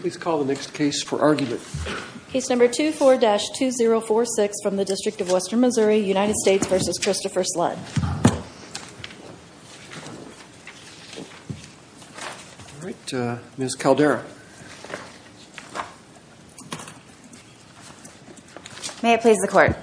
Please call the next case for argument. Case number 24-2046 from the District of Western Missouri, United States v. Christopher Sledd. All right, Ms. Caldera. May it please the Court.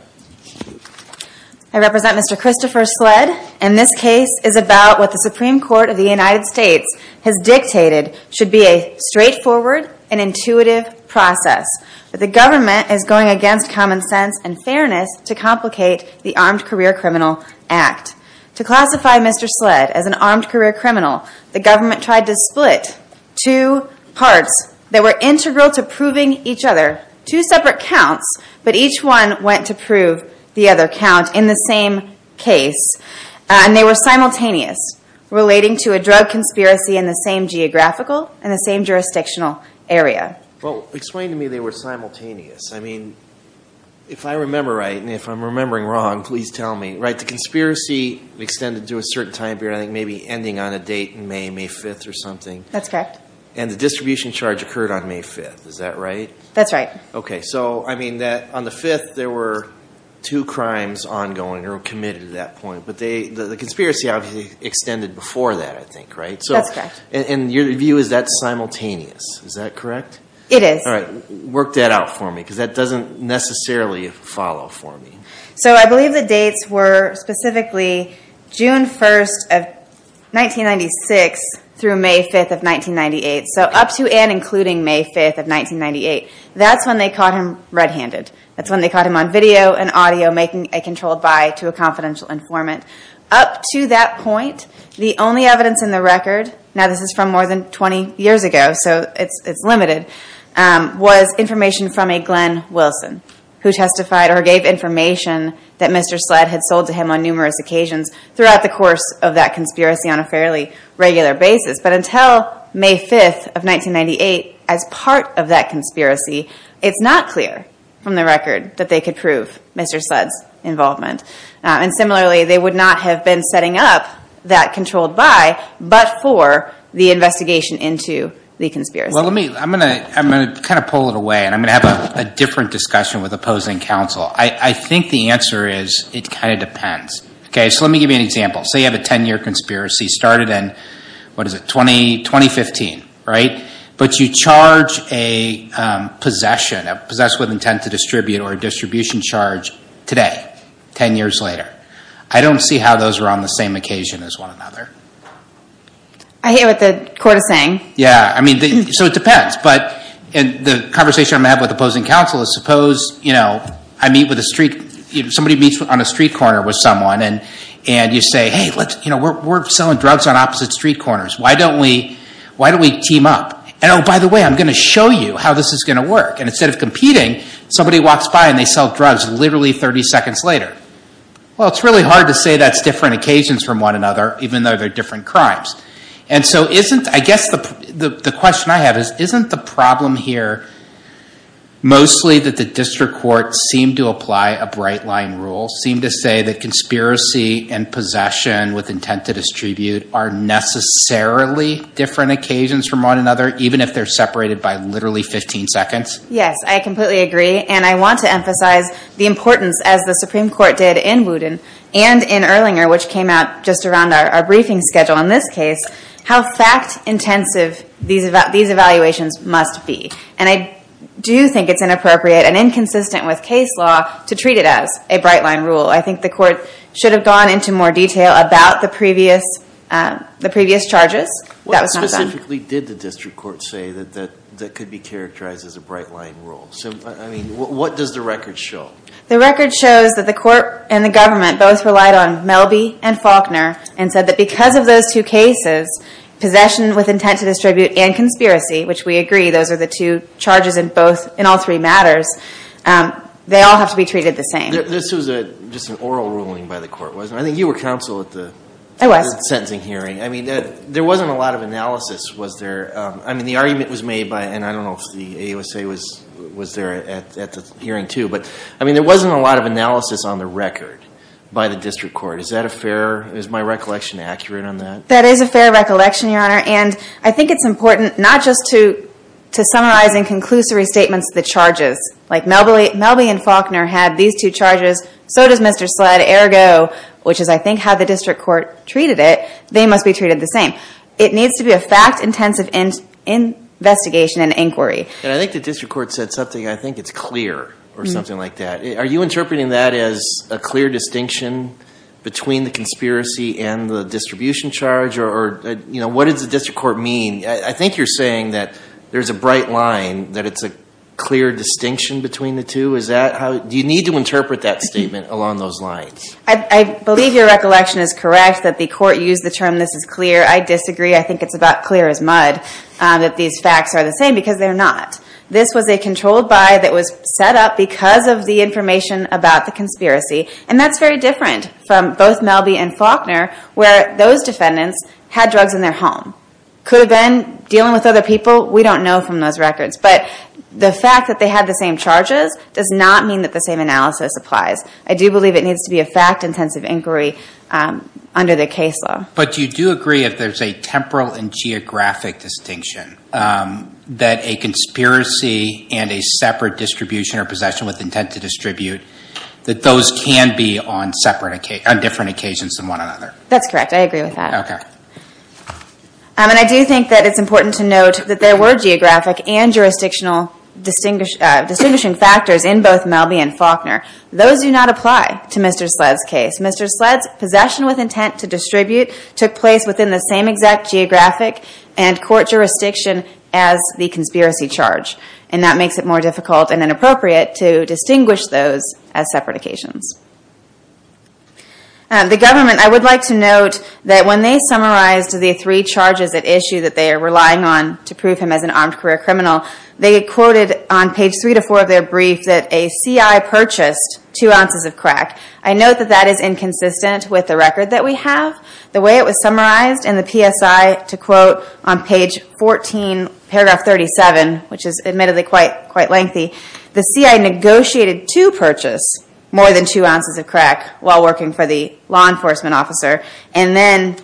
I represent Mr. Christopher Sledd, and this case is about what the Supreme Court of the United States has dictated should be a straightforward and intuitive process. The government is going against common sense and fairness to complicate the Armed Career Criminal Act. To classify Mr. Sledd as an armed career criminal, the government tried to split two parts that were integral to proving each other. Two separate counts, but each one went to prove the other count in the same case. And they were simultaneous, relating to a drug conspiracy in the same geographical and the same jurisdictional area. Well, explain to me they were simultaneous. I mean, if I remember right, and if I'm remembering wrong, please tell me. Right, the conspiracy extended to a certain time period, I think maybe ending on a date in May, May 5th or something. That's correct. And the distribution charge occurred on May 5th, is that right? That's right. Okay, so I mean, on the 5th there were two crimes ongoing or committed at that point, but the conspiracy obviously extended before that, I think, right? That's correct. And your view is that's simultaneous, is that correct? It is. All right, work that out for me, because that doesn't necessarily follow for me. So I believe the dates were specifically June 1st of 1996 through May 5th of 1998. So up to and including May 5th of 1998. That's when they caught him red-handed. That's when they caught him on video and audio making a controlled buy to a confidential informant. Up to that point, the only evidence in the record, now this is from more than 20 years ago, so it's limited, was information from a Glenn Wilson who testified or gave information that Mr. Sled had sold to him on numerous occasions throughout the course of that conspiracy on a fairly regular basis. But until May 5th of 1998, as part of that conspiracy, it's not clear from the record that they could prove Mr. Sled's involvement. And similarly, they would not have been setting up that controlled buy, but for the investigation into the conspiracy. Well, I'm going to kind of pull it away, and I'm going to have a different discussion with opposing counsel. I think the answer is it kind of depends. Okay, so let me give you an example. Say you have a 10-year conspiracy started in, what is it, 2015, right? But you charge a possession, a possess with intent to distribute or a distribution charge today, 10 years later. I don't see how those are on the same occasion as one another. I hear what the court is saying. Yeah, I mean, so it depends. But the conversation I'm going to have with opposing counsel is suppose I meet with a street, somebody meets on a street corner with someone, and you say, hey, we're selling drugs on opposite street corners. Why don't we team up? And, oh, by the way, I'm going to show you how this is going to work. And instead of competing, somebody walks by and they sell drugs literally 30 seconds later. Well, it's really hard to say that's different occasions from one another, even though they're different crimes. And so isn't, I guess the question I have is, isn't the problem here mostly that the district courts seem to apply a bright line rule, seem to say that conspiracy and possession with intent to distribute are necessarily different occasions from one another, even if they're separated by literally 15 seconds? Yes, I completely agree. And I want to emphasize the importance, as the Supreme Court did in Wooten and in Erlinger, which came out just around our briefing schedule in this case, how fact-intensive these evaluations must be. And I do think it's inappropriate and inconsistent with case law to treat it as a bright line rule. I think the court should have gone into more detail about the previous charges. What specifically did the district court say that could be characterized as a bright line rule? I mean, what does the record show? The record shows that the court and the government both relied on Melby and Faulkner and said that because of those two cases, possession with intent to distribute and conspiracy, which we agree those are the two charges in all three matters, they all have to be treated the same. This was just an oral ruling by the court, wasn't it? I think you were counsel at the sentencing hearing. I mean, there wasn't a lot of analysis, was there? I mean, the argument was made by, and I don't know if the AUSA was there at the hearing, too. But, I mean, there wasn't a lot of analysis on the record by the district court. Is that a fair, is my recollection accurate on that? That is a fair recollection, Your Honor. And I think it's important not just to summarize in conclusory statements the charges, like Melby and Faulkner had these two charges, so does Mr. Sled, ergo, which is, I think, how the district court treated it, they must be treated the same. It needs to be a fact-intensive investigation and inquiry. And I think the district court said something, I think it's clear, or something like that. Are you interpreting that as a clear distinction between the conspiracy and the distribution charge? Or, you know, what does the district court mean? I think you're saying that there's a bright line, that it's a clear distinction between the two. Is that how, do you need to interpret that statement along those lines? I believe your recollection is correct that the court used the term, this is clear. I disagree. I think it's about clear as mud that these facts are the same, because they're not. This was a controlled buy that was set up because of the information about the conspiracy. And that's very different from both Melby and Faulkner, where those defendants had drugs in their home. Could have been dealing with other people, we don't know from those records. But the fact that they had the same charges does not mean that the same analysis applies. I do believe it needs to be a fact-intensive inquiry under the case law. But you do agree that there's a temporal and geographic distinction, that a conspiracy and a separate distribution or possession with intent to distribute, that those can be on different occasions than one another. That's correct. I agree with that. And I do think that it's important to note that there were geographic and jurisdictional distinguishing factors in both Melby and Faulkner. Those do not apply to Mr. Sled's case. Mr. Sled's possession with intent to distribute took place within the same exact geographic and court jurisdiction as the conspiracy charge. And that makes it more difficult and inappropriate to distinguish those as separate occasions. The government, I would like to note that when they summarized the three charges at issue that they are relying on to prove him as an armed career criminal, they quoted on page three to four of their brief that a CI purchased two ounces of crack. I note that that is inconsistent with the record that we have. The way it was summarized in the PSI to quote on page 14, paragraph 37, which is admittedly quite lengthy, the CI negotiated to purchase more than two ounces of crack while working for the law enforcement officer. And then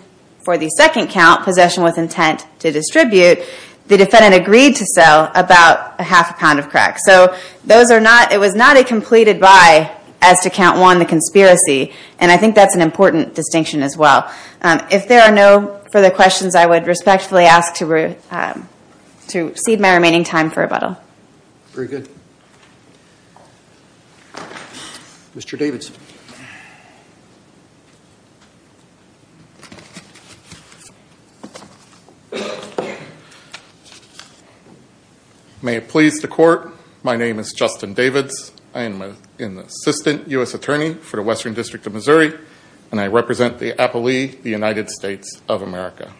for the second count, possession with intent to distribute, the defendant agreed to sell about a half a pound of crack. So it was not a completed buy as to count one, the conspiracy. And I think that's an important distinction as well. If there are no further questions, I would respectfully ask to cede my remaining time for rebuttal. Very good. Mr. Davidson. Thank you, Judge. May it please the court, my name is Justin Davids. I am an assistant U.S. attorney for the Western District of Missouri, and I represent the appellee, the United States of America.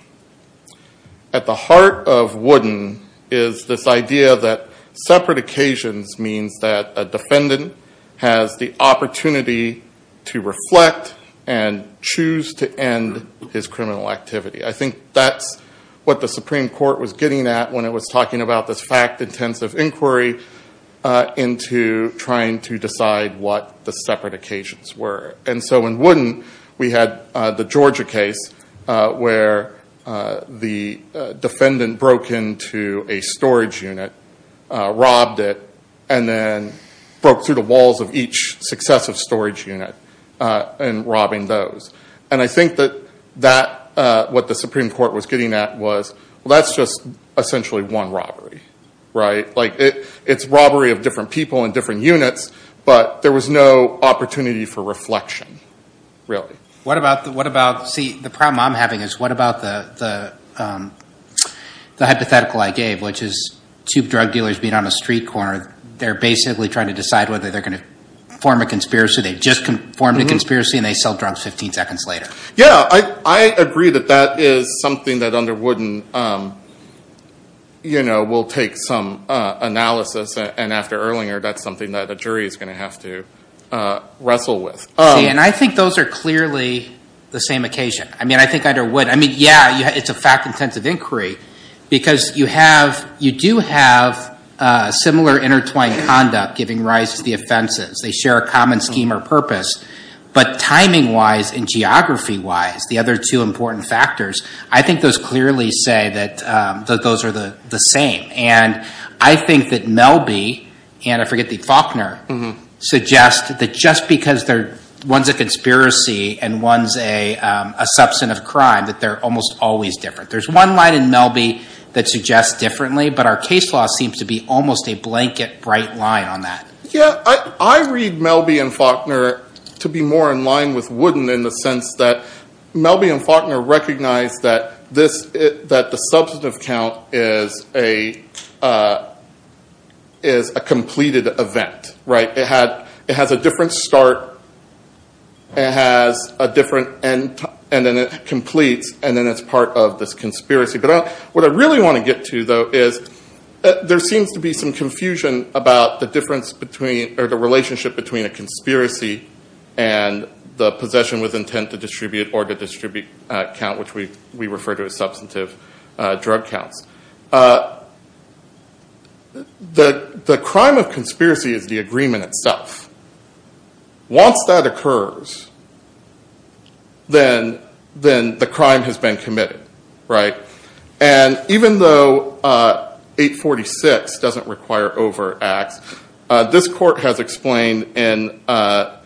At the heart of Wooden is this idea that separate occasions means that a defendant has the opportunity to reflect and choose to end his criminal activity. I think that's what the Supreme Court was getting at when it was talking about this fact-intensive inquiry into trying to decide what the separate occasions were. And so in Wooden, we had the Georgia case where the defendant broke into a storage unit, robbed it, and then broke through the walls of each successive storage unit in robbing those. And I think that what the Supreme Court was getting at was, well, that's just essentially one robbery, right? Like, it's robbery of different people in different units, but there was no opportunity for reflection, really. What about, see, the problem I'm having is what about the hypothetical I gave, which is two drug dealers being on a street corner. They're basically trying to decide whether they're going to form a conspiracy. They've just formed a conspiracy, and they sell drugs 15 seconds later. Yeah, I agree that that is something that under Wooden will take some analysis, and after Erlinger, that's something that a jury is going to have to wrestle with. See, and I think those are clearly the same occasion. I mean, I think under Wooden, I mean, yeah, it's a fact-intensive inquiry, because you do have similar intertwined conduct giving rise to the offenses. They share a common scheme or purpose. But timing-wise and geography-wise, the other two important factors, I think those clearly say that those are the same. And I think that Melby, and I forget the Faulkner, suggest that just because one's a conspiracy and one's a substantive crime, that they're almost always different. There's one line in Melby that suggests differently, but our case law seems to be almost a blanket bright line on that. Yeah, I read Melby and Faulkner to be more in line with Wooden in the sense that Melby and Faulkner recognize that the substantive count is a completed event. It has a different start, and it has a different end, and then it completes, and then it's part of this conspiracy. But what I really want to get to, though, is there seems to be some confusion about the relationship between a conspiracy and the possession with intent to distribute or to distribute count, which we refer to as substantive drug counts. The crime of conspiracy is the agreement itself. Once that occurs, then the crime has been committed, right? And even though 846 doesn't require overt acts, this court has explained in Bell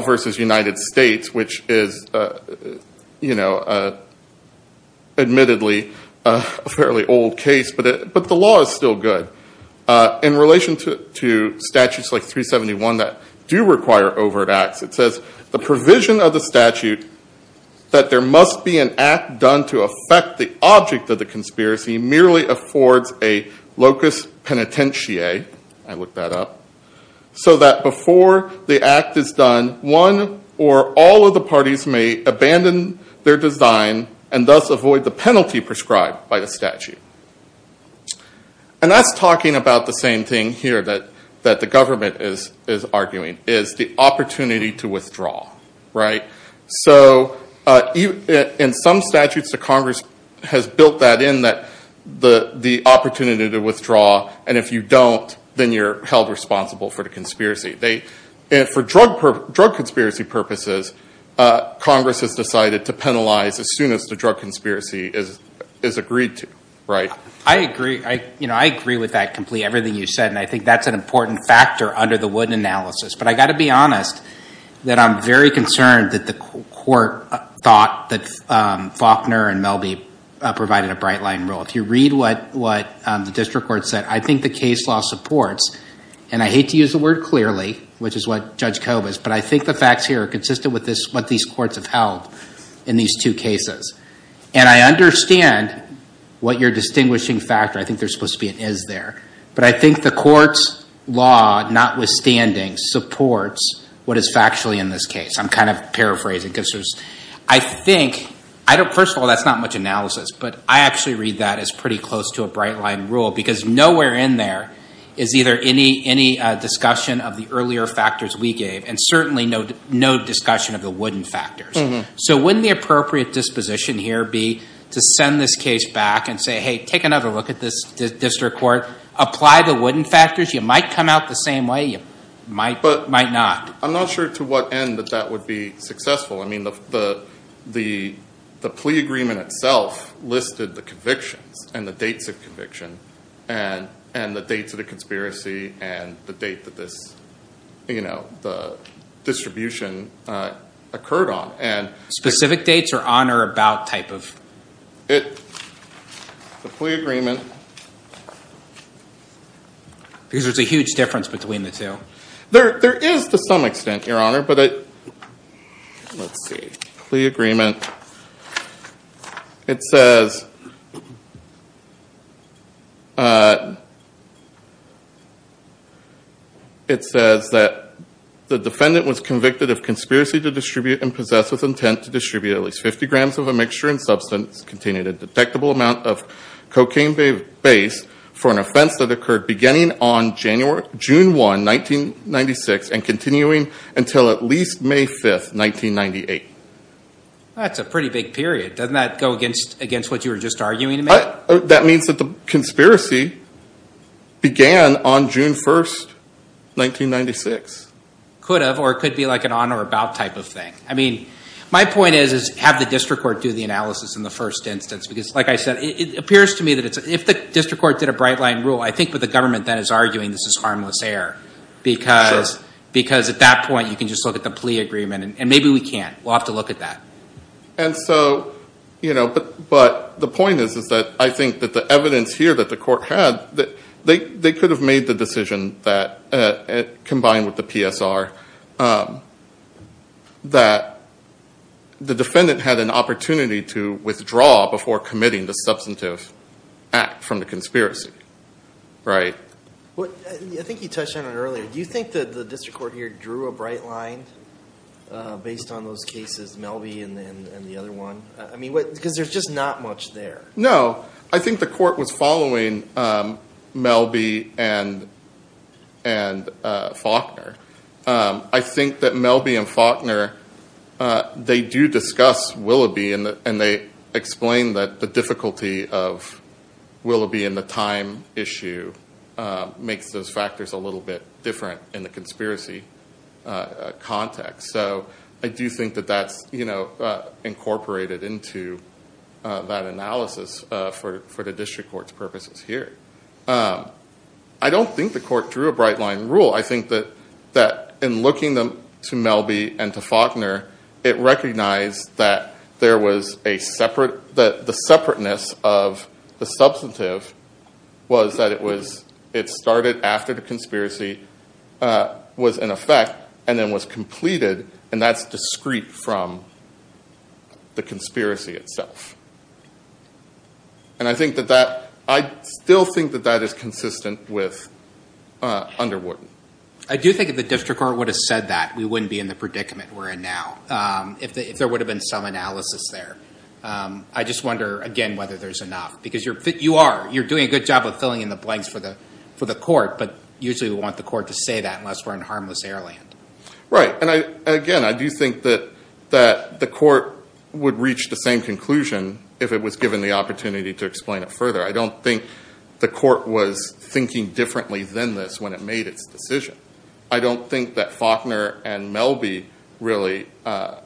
v. United States, which is admittedly a fairly old case, but the law is still good. In relation to statutes like 371 that do require overt acts, it says, the provision of the statute that there must be an act done to affect the object of the conspiracy merely affords a locus penitentiae. I looked that up. So that before the act is done, one or all of the parties may abandon their design and thus avoid the penalty prescribed by the statute. And that's talking about the same thing here that the government is arguing, is the opportunity to withdraw, right? So in some statutes, the Congress has built that in, the opportunity to withdraw, and if you don't, then you're held responsible for the conspiracy. For drug conspiracy purposes, Congress has decided to penalize as soon as the drug conspiracy is agreed to, right? I agree with that completely, everything you said, and I think that's an important factor under the Wood analysis. But I've got to be honest that I'm very concerned that the court thought that Faulkner and Melby provided a bright line rule. If you read what the district court said, I think the case law supports, and I hate to use the word clearly, which is what Judge Cove is, but I think the facts here are consistent with what these courts have held in these two cases. And I understand what your distinguishing factor, I think there's supposed to be an is there, but I think the court's law, notwithstanding, supports what is factually in this case. I'm kind of paraphrasing, because I think, first of all, that's not much analysis, but I actually read that as pretty close to a bright line rule, because nowhere in there is either any discussion of the earlier factors we gave, and certainly no discussion of the Wooden factors. So wouldn't the appropriate disposition here be to send this case back and say, hey, take another look at this district court, apply the Wooden factors, you might come out the same way, you might not. I'm not sure to what end that that would be successful. I mean the plea agreement itself listed the convictions and the dates of conviction and the dates of the conspiracy and the date that this distribution occurred on. Specific dates or on or about type of? The plea agreement. Because there's a huge difference between the two. There is to some extent, Your Honor, but let's see. Plea agreement. It says that the defendant was convicted of conspiracy to distribute and possessed with intent to distribute at least 50 grams of a mixture and substance containing a detectable amount of cocaine base for an offense that occurred beginning on June 1, 1996 and continuing until at least May 5, 1998. That's a pretty big period. Doesn't that go against what you were just arguing? That means that the conspiracy began on June 1, 1996. Could have, or it could be like an on or about type of thing. I mean my point is have the district court do the analysis in the first instance. Because like I said, it appears to me that if the district court did a bright line rule, I think what the government then is arguing this is harmless air. Because at that point you can just look at the plea agreement. And maybe we can't. We'll have to look at that. But the point is that I think that the evidence here that the court had, they could have made the decision combined with the PSR that the defendant had an opportunity to withdraw before committing the substantive act from the conspiracy. I think you touched on it earlier. Do you think that the district court here drew a bright line based on those cases, Melby and the other one? Because there's just not much there. No. I think the court was following Melby and Faulkner. I think that Melby and Faulkner, they do discuss Willoughby and they explain that the difficulty of Willoughby in the time issue makes those factors a little bit different in the conspiracy context. So I do think that that's incorporated into that analysis for the district court's purposes here. I don't think the court drew a bright line rule. I think that in looking to Melby and to Faulkner, it recognized that the separateness of the substantive was that it started after the conspiracy was in effect and then was completed, and that's discreet from the conspiracy itself. And I still think that that is consistent with Underwood. I do think if the district court would have said that, we wouldn't be in the predicament we're in now if there would have been some analysis there. I just wonder, again, whether there's enough, because you are. You're doing a good job of filling in the blanks for the court, but usually we want the court to say that unless we're in harmless air land. Right. And, again, I do think that the court would reach the same conclusion if it was given the opportunity to explain it further. I don't think the court was thinking differently than this when it made its decision. I don't think that Faulkner and Melby really are—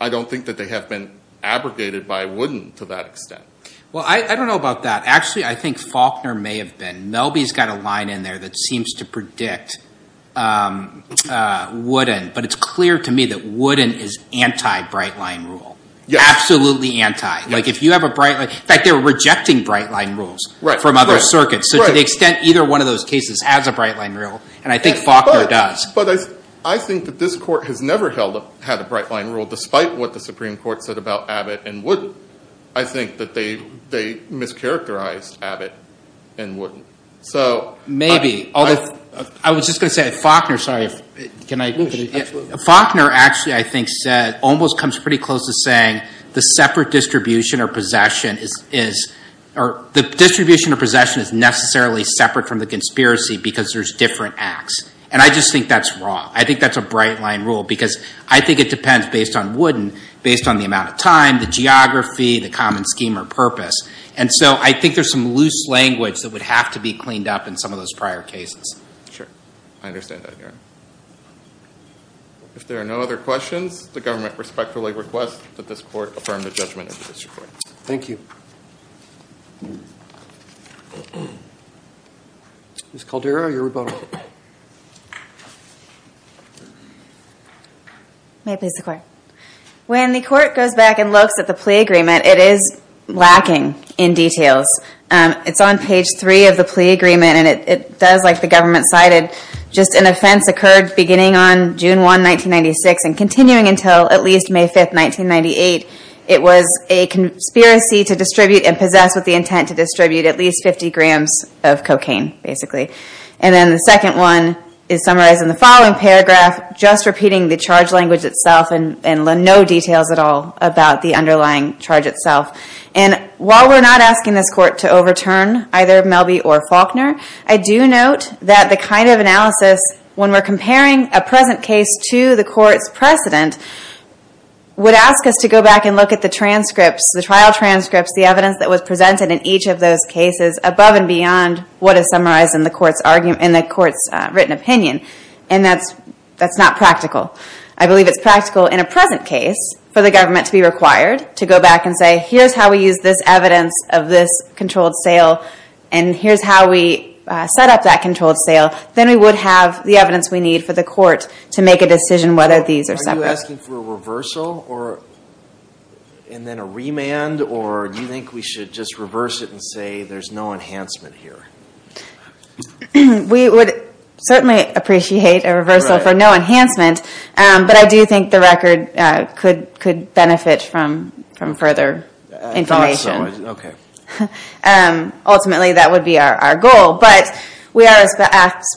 I don't think that they have been abrogated by Wooden to that extent. Well, I don't know about that. Actually, I think Faulkner may have been. Melby's got a line in there that seems to predict Wooden, but it's clear to me that Wooden is anti-brightline rule, absolutely anti. In fact, they were rejecting brightline rules from other circuits. So to the extent either one of those cases has a brightline rule, and I think Faulkner does. But I think that this court has never had a brightline rule, despite what the Supreme Court said about Abbott and Wooden. I think that they mischaracterized Abbott and Wooden. Maybe. I was just going to say, Faulkner—sorry, can I— Faulkner actually, I think, almost comes pretty close to saying the separate distribution or possession is— the distribution or possession is necessarily separate from the conspiracy because there's different acts. And I just think that's wrong. I think that's a brightline rule because I think it depends, based on Wooden, based on the amount of time, the geography, the common scheme or purpose. And so I think there's some loose language that would have to be cleaned up in some of those prior cases. Sure. I understand that, Your Honor. If there are no other questions, the government respectfully requests that this court affirm the judgment of this report. Thank you. Ms. Caldera, your rebuttal. May it please the Court. When the Court goes back and looks at the plea agreement, it is lacking in details. It's on page 3 of the plea agreement, and it does, like the government cited, just an offense occurred beginning on June 1, 1996 and continuing until at least May 5, 1998. It was a conspiracy to distribute and possess with the intent to distribute at least 50 grams of cocaine, basically. And then the second one is summarized in the following paragraph, just repeating the charge language itself and no details at all about the underlying charge itself. And while we're not asking this Court to overturn either Melby or Faulkner, I do note that the kind of analysis, when we're comparing a present case to the Court's precedent, would ask us to go back and look at the transcripts, the trial transcripts, the evidence that was presented in each of those cases, above and beyond what is summarized in the Court's written opinion. And that's not practical. I believe it's practical in a present case for the government to be required to go back and say, here's how we use this evidence of this controlled sale, and here's how we set up that controlled sale. Then we would have the evidence we need for the Court to make a decision whether these are separate. Are you asking for a reversal and then a remand? Or do you think we should just reverse it and say, there's no enhancement here? We would certainly appreciate a reversal for no enhancement, but I do think the record could benefit from further information. Ultimately, that would be our goal. But we are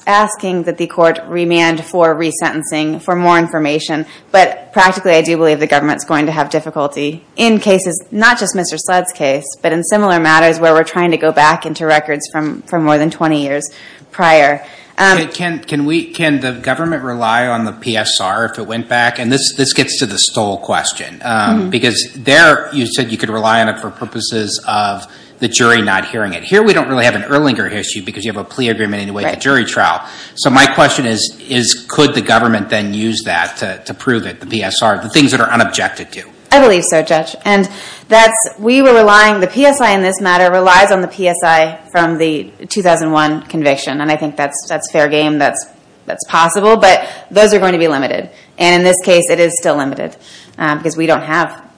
asking that the Court remand for resentencing for more information. But practically, I do believe the government's going to have difficulty in cases, not just Mr. Sled's case, but in similar matters where we're trying to go back into records from more than 20 years prior. Can the government rely on the PSR if it went back? And this gets to the Stoll question, because there you said you could rely on it for purposes of the jury not hearing it. Here we don't really have an Erlinger issue because you have a plea agreement anyway for jury trial. So my question is, could the government then use that to prove it, the PSR, the things that are unobjected to? I believe so, Judge. And the PSI in this matter relies on the PSI from the 2001 conviction, and I think that's fair game, that's possible, but those are going to be limited. And in this case, it is still limited because we don't have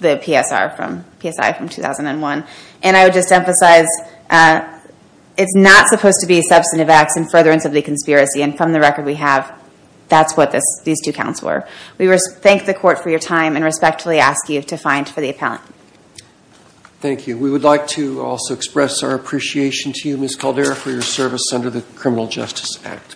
the PSI from 2001. And I would just emphasize, it's not supposed to be substantive acts in furtherance of the conspiracy, and from the record we have, that's what these two counts were. We thank the court for your time and respectfully ask you to find for the appellant. Thank you. We would like to also express our appreciation to you, Ms. Caldera, for your service under the Criminal Justice Act.